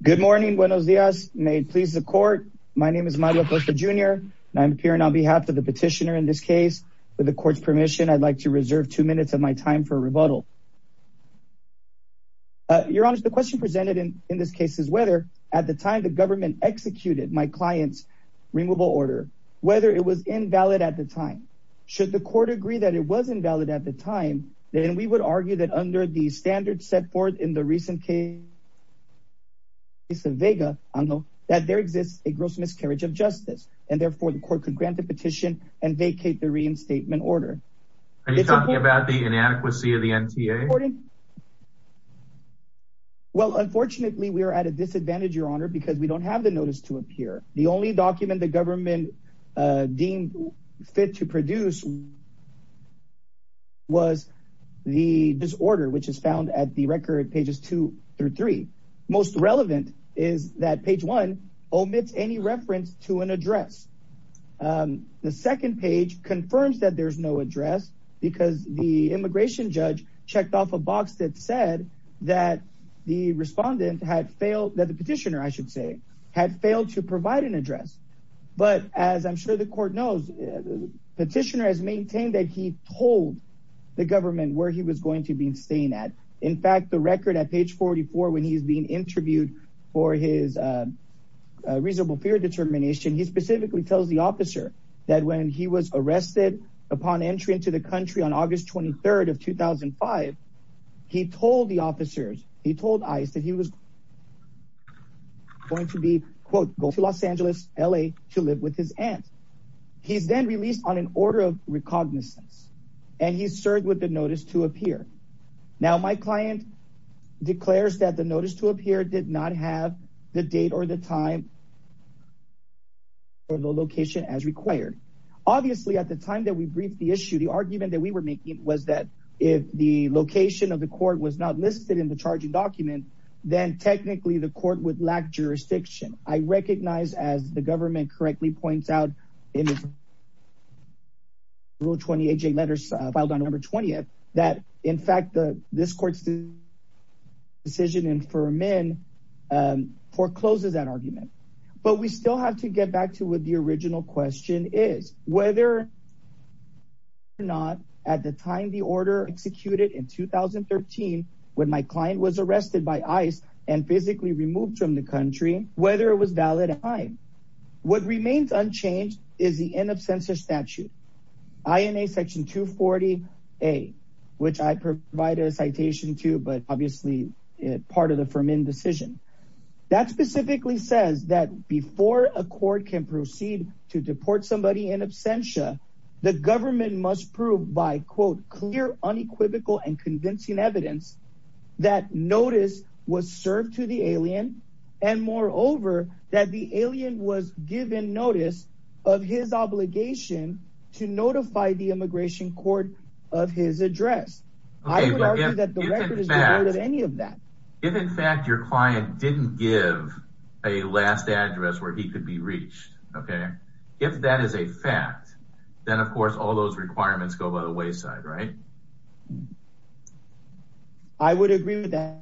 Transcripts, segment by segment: Good morning. Buenos dias. May it please the court. My name is Mario Acosta Jr. and I'm appearing on behalf of the petitioner in this case. With the court's permission, I'd like to reserve two minutes of my time for rebuttal. Your Honor, the question presented in this case is whether, at the time the government executed my client's removal order, whether it was invalid at the time. Should the court agree that it was invalid at the time, then we would argue that under the standards set forth in the recent case of Vega, that there exists a gross miscarriage of justice, and therefore the court could grant the petition and vacate the reinstatement order. Are you talking about the inadequacy of the NTA? Well, unfortunately, we are at a disadvantage, Your Honor, because we don't have the notice to appear. The only document the government deemed fit to produce was the disorder, which is found at the record pages two through three. Most relevant is that page one omits any reference to an address. The second page confirms that there's no address because the immigration judge checked off a box that said that the respondent had failed, that the petitioner, I should say, had failed to provide an address. But as I'm sure the court knows, the petitioner has maintained that he told the government where he was going to be staying at. In fact, the record at page 44, when he's being interviewed for his reasonable fear determination, he specifically tells the officer that when he was arrested upon entry into the country on August 23rd of 2005, he told the officers, he told ICE that he was going to be, quote, going to Los Angeles, LA. To live with his aunt. He's then released on an order of recognizance, and he's served with the notice to appear. Now, my client declares that the notice to appear did not have the date or the time or the location as required. Obviously, at the time that we briefed the issue, the argument that we were making was that if the location of the court was not listed in the charging document, then technically the court would lack jurisdiction. I recognize, as the government correctly points out, in Rule 28J letters filed on November 20th, that in fact, this court's decision in Furman forecloses that argument. But we still have to get back to what the original question is, whether or not at the time the order executed in 2013, when my client was arrested by ICE and physically removed from the country, whether it was valid or not. What remains unchanged is the in absentia statute. INA section 240A, which I provide a citation to, but obviously part of the Furman decision. That specifically says that before a court can proceed to deport somebody in absentia, the government must prove by, quote, clear, unequivocal, and convincing evidence that notice was served to the alien. And moreover, that the alien was given notice of his obligation to notify the immigration court of his address. I would argue that the record is devoid of any of that. If, in fact, your client didn't give a last address where he could be reached, okay, if that is a fact, then, of course, all those requirements go by the wayside, right? I would agree with that.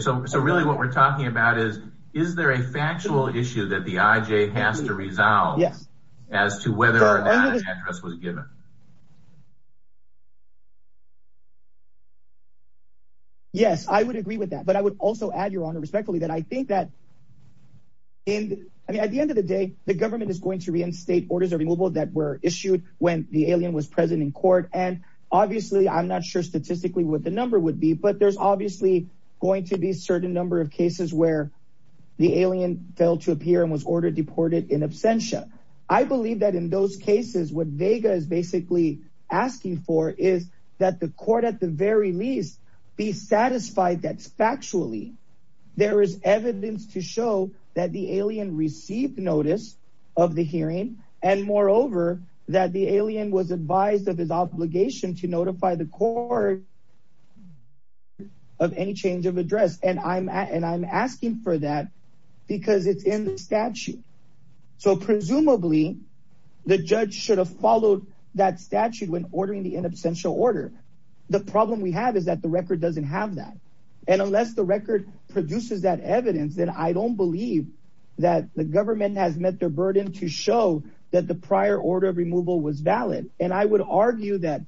So really what we're talking about is, is there a factual issue that the IJ has to resolve as to whether or not an address was given? Yes, I would agree with that, but I would also add, Your Honor, respectfully, that I think that at the end of the day, the government is going to reinstate orders of removal that were issued when the alien was present in court. And obviously, I'm not sure statistically what the number would be, but there's obviously going to be a certain number of cases where the alien failed to appear and was ordered deported in absentia. I believe that in those cases, what Vega is basically asking for is that the court, at the very least, be satisfied that, factually, there is evidence to show that the alien received notice of the hearing and, moreover, that the alien was advised of his obligation to notify the court of any change of address. And I'm asking for that because it's in the statute. So presumably, the judge should have followed that statute when ordering the in absentia order. The problem we have is that the record doesn't have that. And unless the record produces that evidence, then I don't believe that the government has met their burden to show that the prior order of removal was valid. And I would argue that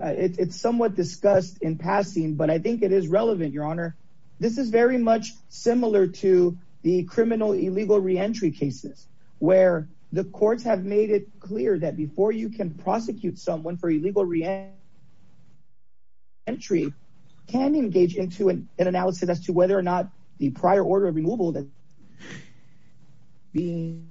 it's somewhat discussed in passing, but I think it is relevant, Your Honor. This is very much similar to the criminal illegal reentry cases where the courts have made it clear that before you can prosecute someone for illegal reentry, can engage into an analysis as to whether or not the prior order of removal that is being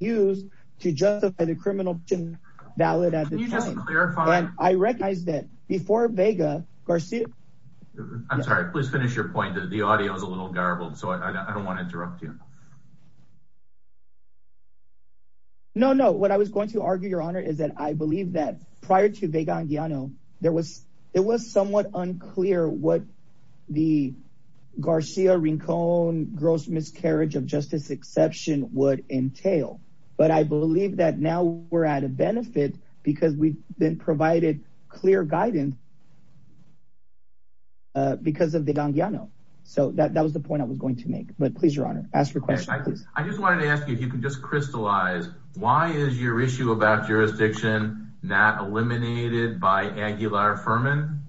used to justify the criminal action is valid at the time. I recognize that before Vega Garcia. I'm sorry. Please finish your point. The audio is a little garbled, so I don't want to interrupt you. No, no. What I was going to argue, Your Honor, is that I believe that prior to Vega Andiano, there was it was somewhat unclear what the Garcia Rincon gross miscarriage of justice exception would entail. But I believe that now we're at a benefit because we've been provided clear guidance because of the Andiano. So that was the point I was going to make. But please, Your Honor, ask your question. I just wanted to ask you if you can just crystallize. Why is your issue about jurisdiction not eliminated by Aguilar Furman?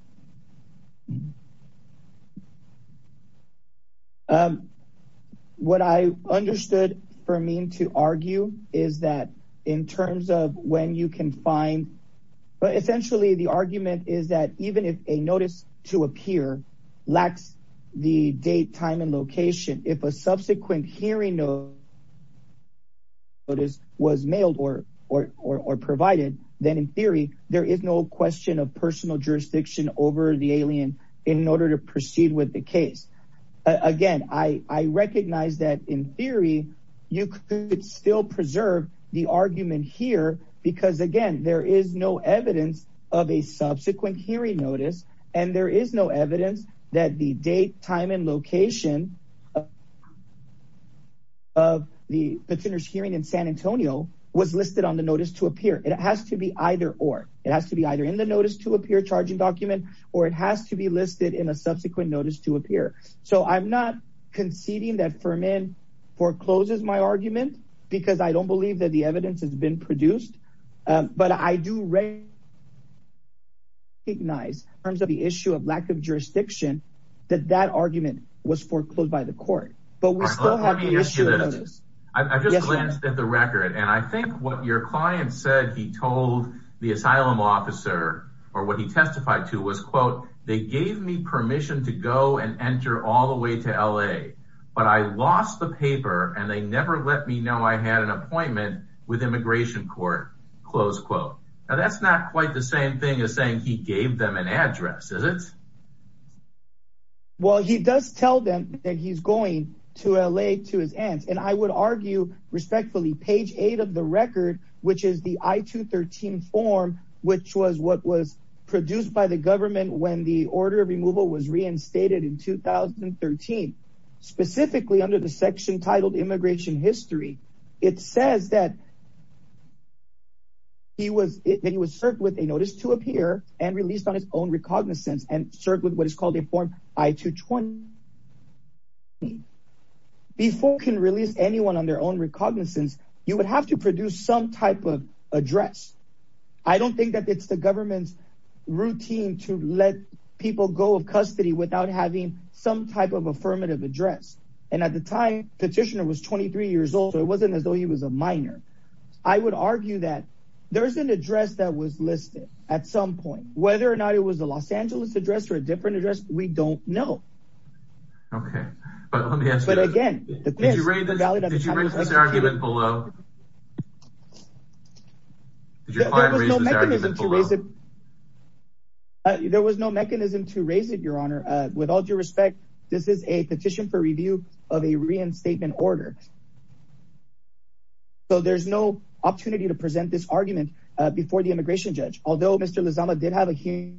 What I understood for me to argue is that in terms of when you can find, but essentially the argument is that even if a notice to appear lacks the date, time and location, if a subsequent hearing notice was mailed or provided, then in theory, there is no question of personal jurisdiction. Over the alien. In order to proceed with the case. Again, I recognize that in theory, you could still preserve the argument here because, again, there is no evidence of a subsequent hearing notice. And there is no evidence that the date, time and location. Of the petitioners hearing in San Antonio was listed on the notice to appear. It has to be either or. It has to be either in the notice to appear charging document or it has to be listed in a subsequent notice to appear. So I'm not conceding that Furman forecloses my argument because I don't believe that the evidence has been produced. But I do. Nice terms of the issue of lack of jurisdiction that that argument was foreclosed by the court. I just glanced at the record and I think what your client said he told the asylum officer or what he testified to was, quote, they gave me permission to go and enter all the way to L.A. But I lost the paper and they never let me know I had an appointment with immigration court. Close quote. Now, that's not quite the same thing as saying he gave them an address, is it? Well, he does tell them that he's going to L.A. to his aunt. And I would argue respectfully, page eight of the record, which is the I-213 form, which was what was produced by the government when the order of removal was reinstated in 2013. Specifically under the section titled Immigration History, it says that. He was he was served with a notice to appear and released on his own recognizance and served with what is called a form I-220. Before can release anyone on their own recognizance, you would have to produce some type of address. I don't think that it's the government's routine to let people go of custody without having some type of affirmative address. And at the time, petitioner was 23 years old. It wasn't as though he was a minor. I would argue that there is an address that was listed at some point, whether or not it was a Los Angeles address or a different address. We don't know. OK, but let me ask. But again, did you read this? Did you read this argument below? Did your client raise this argument below? There was no mechanism to raise it, Your Honor. With all due respect, this is a petition for review of a reinstatement order. So there's no opportunity to present this argument before the immigration judge. Although Mr. Lozano did have a hearing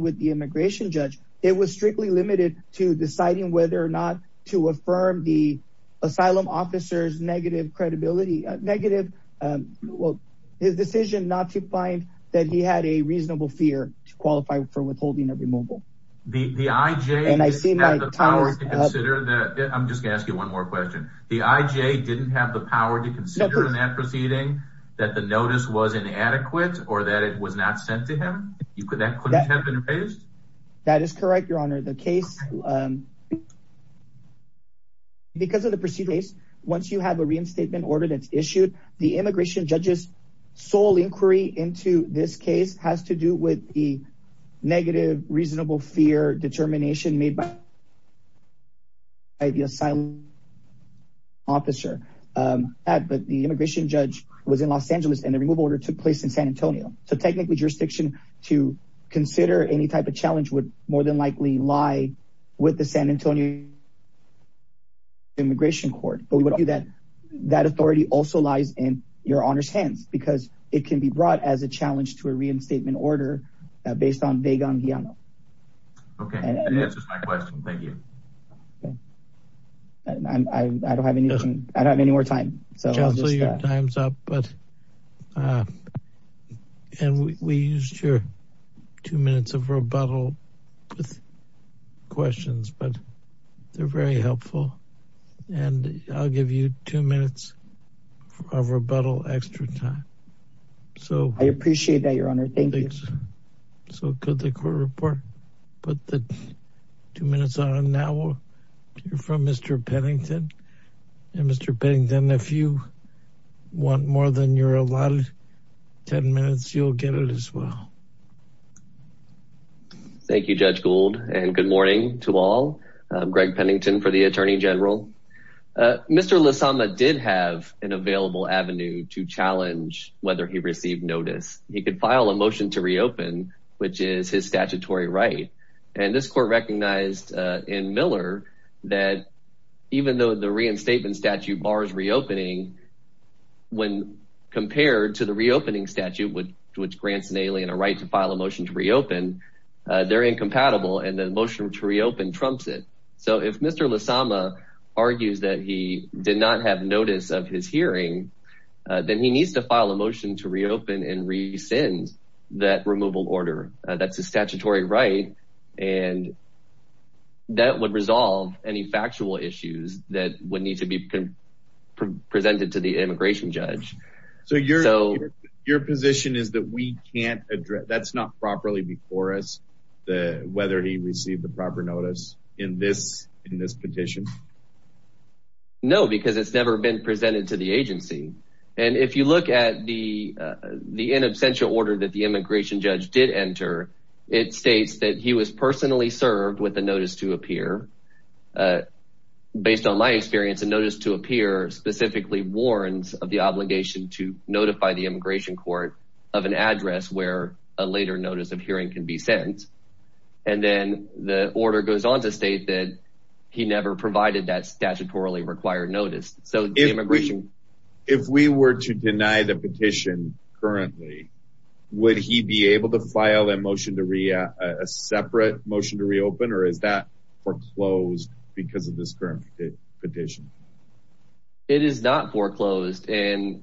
with the immigration judge, it was strictly limited to deciding whether or not to affirm the asylum officer's decision not to find that he had a reasonable fear to qualify for withholding a removal. The IJ didn't have the power to consider in that proceeding that the notice was inadequate or that it was not sent to him? That couldn't have been raised? Because of the proceedings, once you have a reinstatement order that's issued, the immigration judge's sole inquiry into this case has to do with the negative, reasonable fear determination made by the asylum officer. But the immigration judge was in Los Angeles and the removal order took place in San Antonio. So technically, jurisdiction to consider any type of challenge would more than likely lie with the San Antonio Immigration Court. But we would argue that that authority also lies in Your Honor's hands because it can be brought as a challenge to a reinstatement order based on Vega and Guillermo. OK, that answers my question. Thank you. I don't have anything. I don't have any more time. So your time's up. And we used your two minutes of rebuttal with questions, but they're very helpful. And I'll give you two minutes of rebuttal extra time. So I appreciate that, Your Honor. So could the court report put the two minutes on now? You're from Mr. Pennington. And Mr. Pennington, if you want more than your allotted 10 minutes, you'll get it as well. Thank you, Judge Gould. And good morning to all. Greg Pennington for the attorney general. Mr. Lasama did have an available avenue to challenge whether he received notice. He could file a motion to reopen, which is his statutory right. And this court recognized in Miller that even though the reinstatement statute bars reopening, when compared to the reopening statute, which grants an alien a right to file a motion to reopen, they're incompatible. And the motion to reopen trumps it. So if Mr. Lasama argues that he did not have notice of his hearing, then he needs to file a motion to reopen and rescind that removal order. That's a statutory right, and that would resolve any factual issues that would need to be presented to the immigration judge. So your position is that we can't address – that's not properly before us, whether he received the proper notice in this petition? No, because it's never been presented to the agency. And if you look at the in absentia order that the immigration judge did enter, it states that he was personally served with a notice to appear. Based on my experience, a notice to appear specifically warns of the obligation to notify the immigration court of an address where a later notice of hearing can be sent. And then the order goes on to state that he never provided that statutorily required notice. If we were to deny the petition currently, would he be able to file a separate motion to reopen, or is that foreclosed because of this current petition? It is not foreclosed. And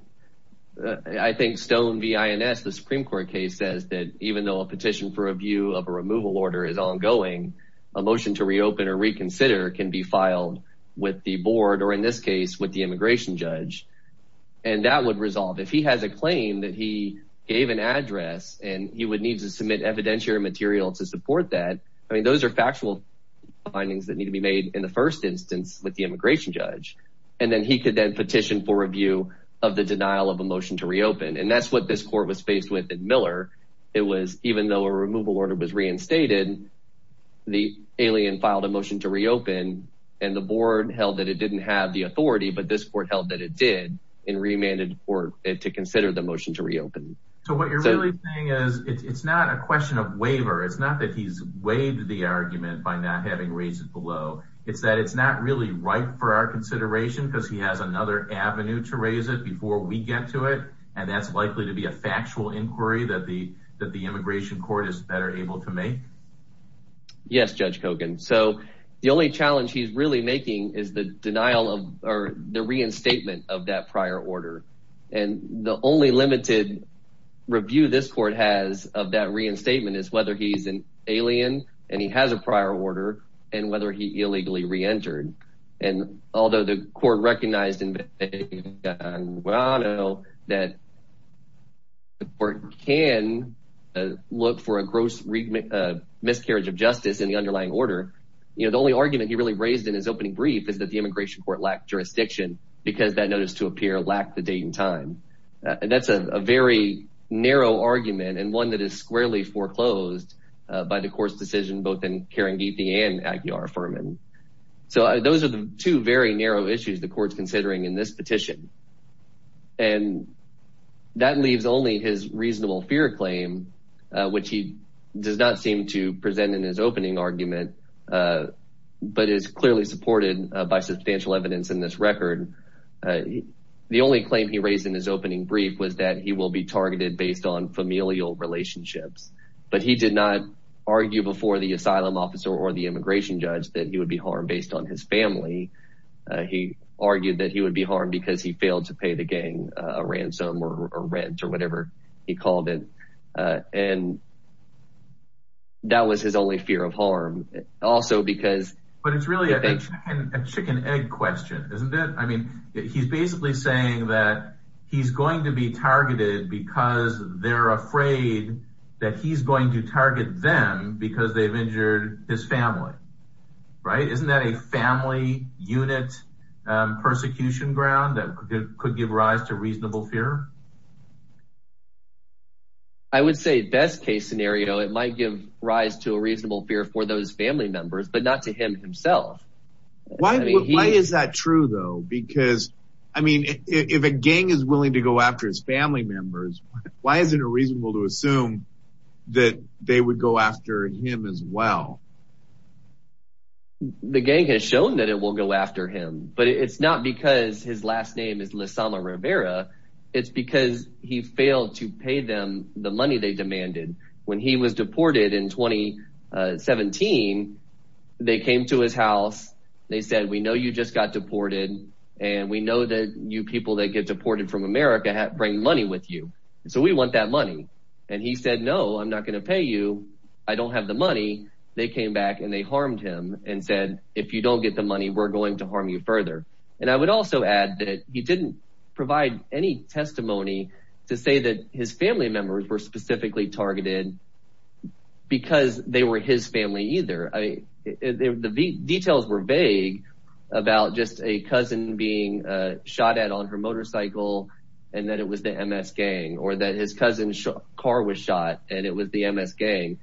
I think Stone v. INS, the Supreme Court case, says that even though a petition for review of a removal order is ongoing, a motion to reopen or reconsider can be filed with the board, or in this case with the immigration judge. And that would resolve – if he has a claim that he gave an address and he would need to submit evidentiary material to support that, I mean, those are factual findings that need to be made in the first instance with the immigration judge. And then he could then petition for review of the denial of a motion to reopen. And that's what this court was faced with in Miller. It was even though a removal order was reinstated, the alien filed a motion to reopen, and the board held that it didn't have the authority, but this court held that it did, and remanded the court to consider the motion to reopen. So what you're really saying is it's not a question of waiver. It's not that he's waived the argument by not having raised it below. It's that it's not really ripe for our consideration because he has another avenue to raise it before we get to it, and that's likely to be a factual inquiry that the immigration court is better able to make? Yes, Judge Kogan. So the only challenge he's really making is the denial of or the reinstatement of that prior order, and the only limited review this court has of that reinstatement is whether he's an alien and he has a prior order and whether he illegally reentered. And although the court recognized that the court can look for a gross miscarriage of justice in the underlying order, the only argument he really raised in his opening brief is that the immigration court lacked jurisdiction because that notice to appear lacked the date and time. And that's a very narrow argument and one that is squarely foreclosed by the court's decision, both in Kerangithi and Aguiar-Ferman. So those are the two very narrow issues the court's considering in this petition, and that leaves only his reasonable fear claim, which he does not seem to present in his opening argument, but is clearly supported by substantial evidence in this record. The only claim he raised in his opening brief was that he will be targeted based on familial relationships, but he did not argue before the asylum officer or the immigration judge that he would be harmed based on his family. He argued that he would be harmed because he failed to pay the gang a ransom or rent or whatever he called it, and that was his only fear of harm. But it's really a chicken-egg question, isn't it? I mean, he's basically saying that he's going to be targeted because they're afraid that he's going to target them because they've injured his family, right? Isn't that a family unit persecution ground that could give rise to reasonable fear? I would say best-case scenario, it might give rise to a reasonable fear for those family members, but not to him himself. Why is that true, though? Because, I mean, if a gang is willing to go after his family members, why isn't it reasonable to assume that they would go after him as well? The gang has shown that it will go after him, but it's not because his last name is Lasama Rivera. It's because he failed to pay them the money they demanded. When he was deported in 2017, they came to his house. They said, we know you just got deported, and we know that you people that get deported from America bring money with you. So we want that money. And he said, no, I'm not going to pay you. I don't have the money. They came back, and they harmed him and said, if you don't get the money, we're going to harm you further. And I would also add that he didn't provide any testimony to say that his family members were specifically targeted because they were his family either. The details were vague about just a cousin being shot at on her motorcycle, and that it was the MS gang, or that his cousin's car was shot, and it was the MS gang.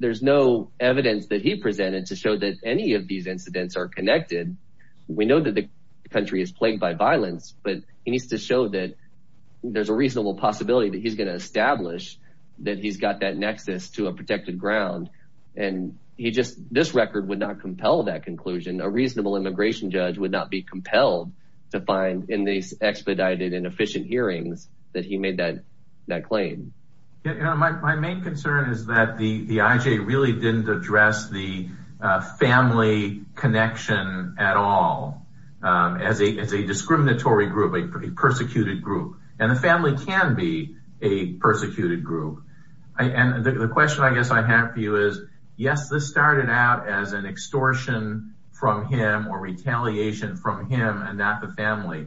There's no evidence that he presented to show that any of these incidents are connected. We know that the country is plagued by violence, but he needs to show that there's a reasonable possibility that he's going to establish that he's got that nexus to a protected ground. And he just – this record would not compel that conclusion. A reasonable immigration judge would not be compelled to find in these expedited and efficient hearings that he made that claim. My main concern is that the IJ really didn't address the family connection at all as a discriminatory group, a persecuted group. And the family can be a persecuted group. And the question I guess I have for you is, yes, this started out as an extortion from him or retaliation from him and not the family,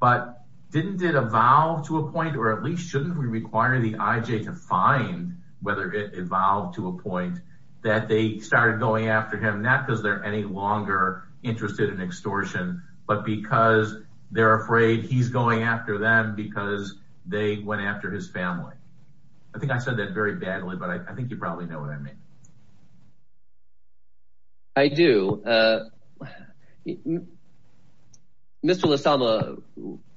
but didn't it evolve to a point, or at least shouldn't we require the IJ to find whether it evolved to a point that they started going after him, not because they're any longer interested in extortion, but because they're afraid he's going after them because they went after his family. I think I said that very badly, but I think you probably know what I mean. I do. Mr. Lasama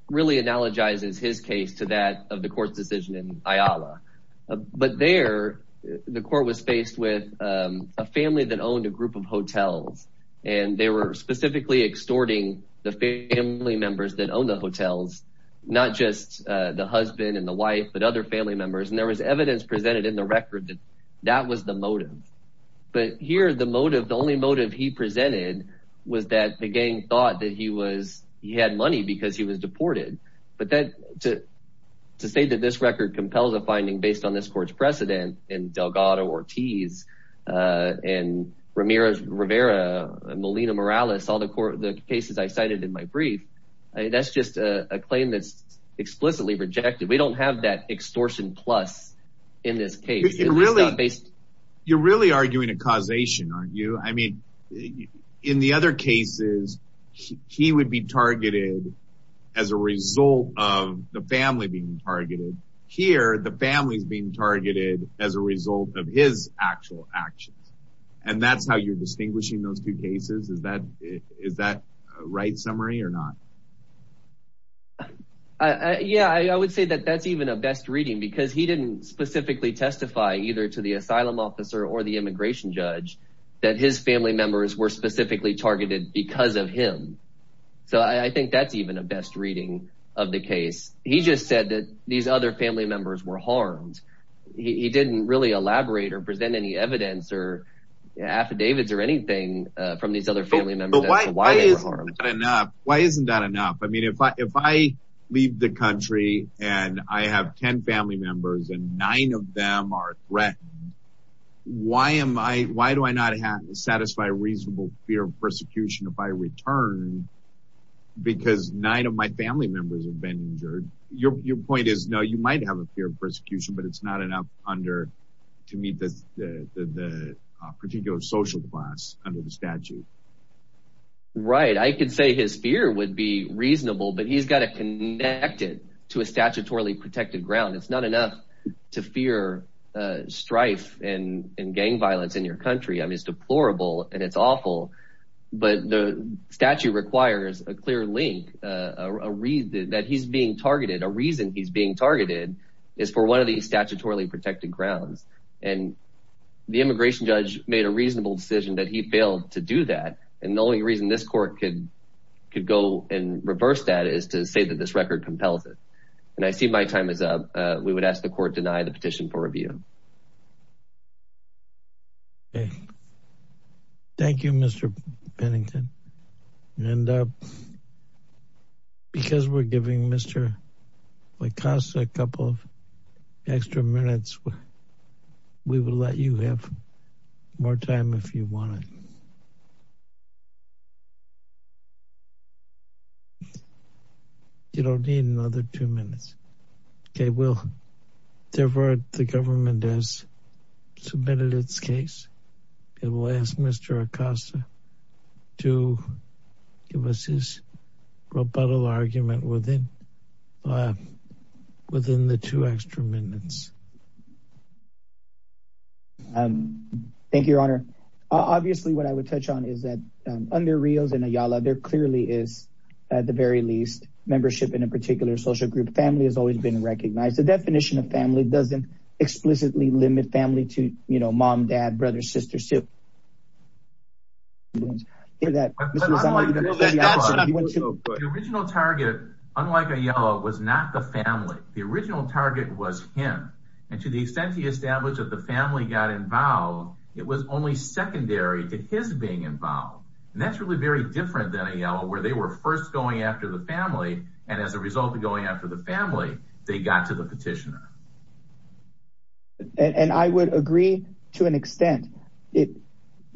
really analogizes his case to that of the court's decision in Ayala. But there the court was faced with a family that owned a group of hotels, and they were specifically extorting the family members that owned the hotels, not just the husband and the wife but other family members. And there was evidence presented in the record that that was the motive. But here the motive, the only motive he presented was that the gang thought that he had money because he was deported. But to say that this record compels a finding based on this court's precedent and Delgado Ortiz and Ramirez Rivera and Molina Morales, all the cases I cited in my brief, that's just a claim that's explicitly rejected. We don't have that extortion plus in this case. You're really arguing a causation, aren't you? I mean, in the other cases, he would be targeted as a result of the family being targeted. Here, the family's being targeted as a result of his actual actions. And that's how you're distinguishing those two cases? Is that a right summary or not? Yeah, I would say that that's even a best reading because he didn't specifically testify either to the asylum officer or the immigration judge that his family members were specifically targeted because of him. So I think that's even a best reading of the case. He just said that these other family members were harmed. He didn't really elaborate or present any evidence or affidavits or anything from these other family members. Why isn't that enough? I mean, if I leave the country and I have 10 family members and nine of them are threatened, why do I not satisfy a reasonable fear of persecution if I return because nine of my family members have been injured? Your point is, no, you might have a fear of persecution, but it's not enough to meet the particular social class under the statute. Right. I could say his fear would be reasonable, but he's got to connect it to a statutorily protected ground. It's not enough to fear strife and gang violence in your country. I mean, it's deplorable and it's awful. But the statute requires a clear link that he's being targeted. A reason he's being targeted is for one of these statutorily protected grounds. And the immigration judge made a reasonable decision that he failed to do that. And the only reason this court could go and reverse that is to say that this record compels it. And I see my time is up. We would ask the court deny the petition for review. Thank you, Mr. Pennington. And because we're giving Mr. LaCosta a couple of extra minutes, we will let you have more time if you want. You don't need another two minutes. Okay, well, therefore, the government has submitted its case. It will ask Mr. LaCosta to give us his rebuttal argument within the two extra minutes. Thank you, Your Honor. Obviously, what I would touch on is that under Rios and Ayala, there clearly is, at the very least, membership in a particular social group. Family has always been recognized. The definition of family doesn't explicitly limit family to, you know, mom, dad, brothers, sisters, too. The original target, unlike Ayala, was not the family. The original target was him. And to the extent he established that the family got involved, it was only secondary to his being involved. And that's really very different than Ayala, where they were first going after the family, and as a result of going after the family, they got to the petitioner. And I would agree to an extent. Mr.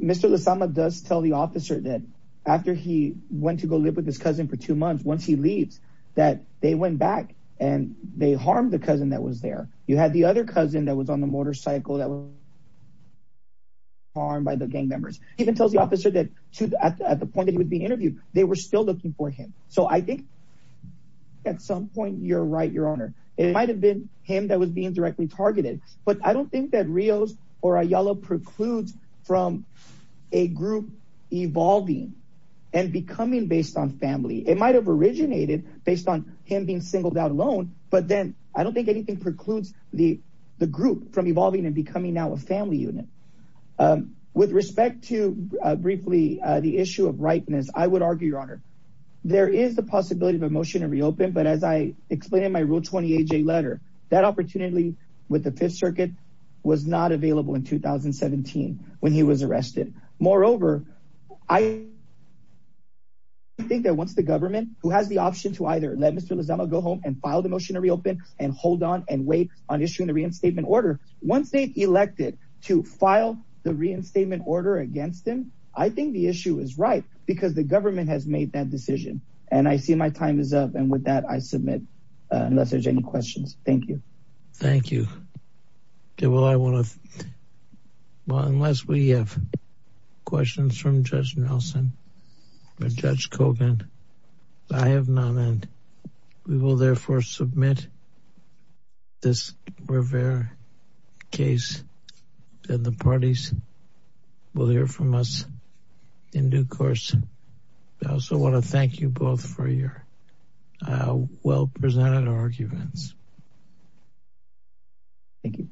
Lasama does tell the officer that after he went to go live with his cousin for two months, once he leaves, that they went back and they harmed the cousin that was there. You had the other cousin that was on the motorcycle that was harmed by the gang members. He even tells the officer that at the point that he was being interviewed, they were still looking for him. So I think at some point you're right, Your Honor. It might have been him that was being directly targeted, but I don't think that Rios or Ayala precludes from a group evolving and becoming based on family. It might have originated based on him being singled out alone, but then I don't think anything precludes the group from evolving and becoming now a family unit. With respect to briefly the issue of ripeness, I would argue, Your Honor, there is the possibility of a motion to reopen. But as I explained in my Rule 20AJ letter, that opportunity with the Fifth Circuit was not available in 2017 when he was arrested. Moreover, I think that once the government, who has the option to either let Mr. Lasama go home and file the motion to reopen and hold on and wait on issuing the reinstatement order, once they elected to file the reinstatement order against him, I think the issue is right because the government has made that decision. And I see my time is up. And with that, I submit, unless there's any questions. Thank you. Thank you. Okay. Well, I want to, well, unless we have questions from Judge Nelson or Judge Kogan, I have none and we will therefore submit this Rivera case and the parties will hear from us in due course. I also want to thank you both for your well-presented arguments. Thank you.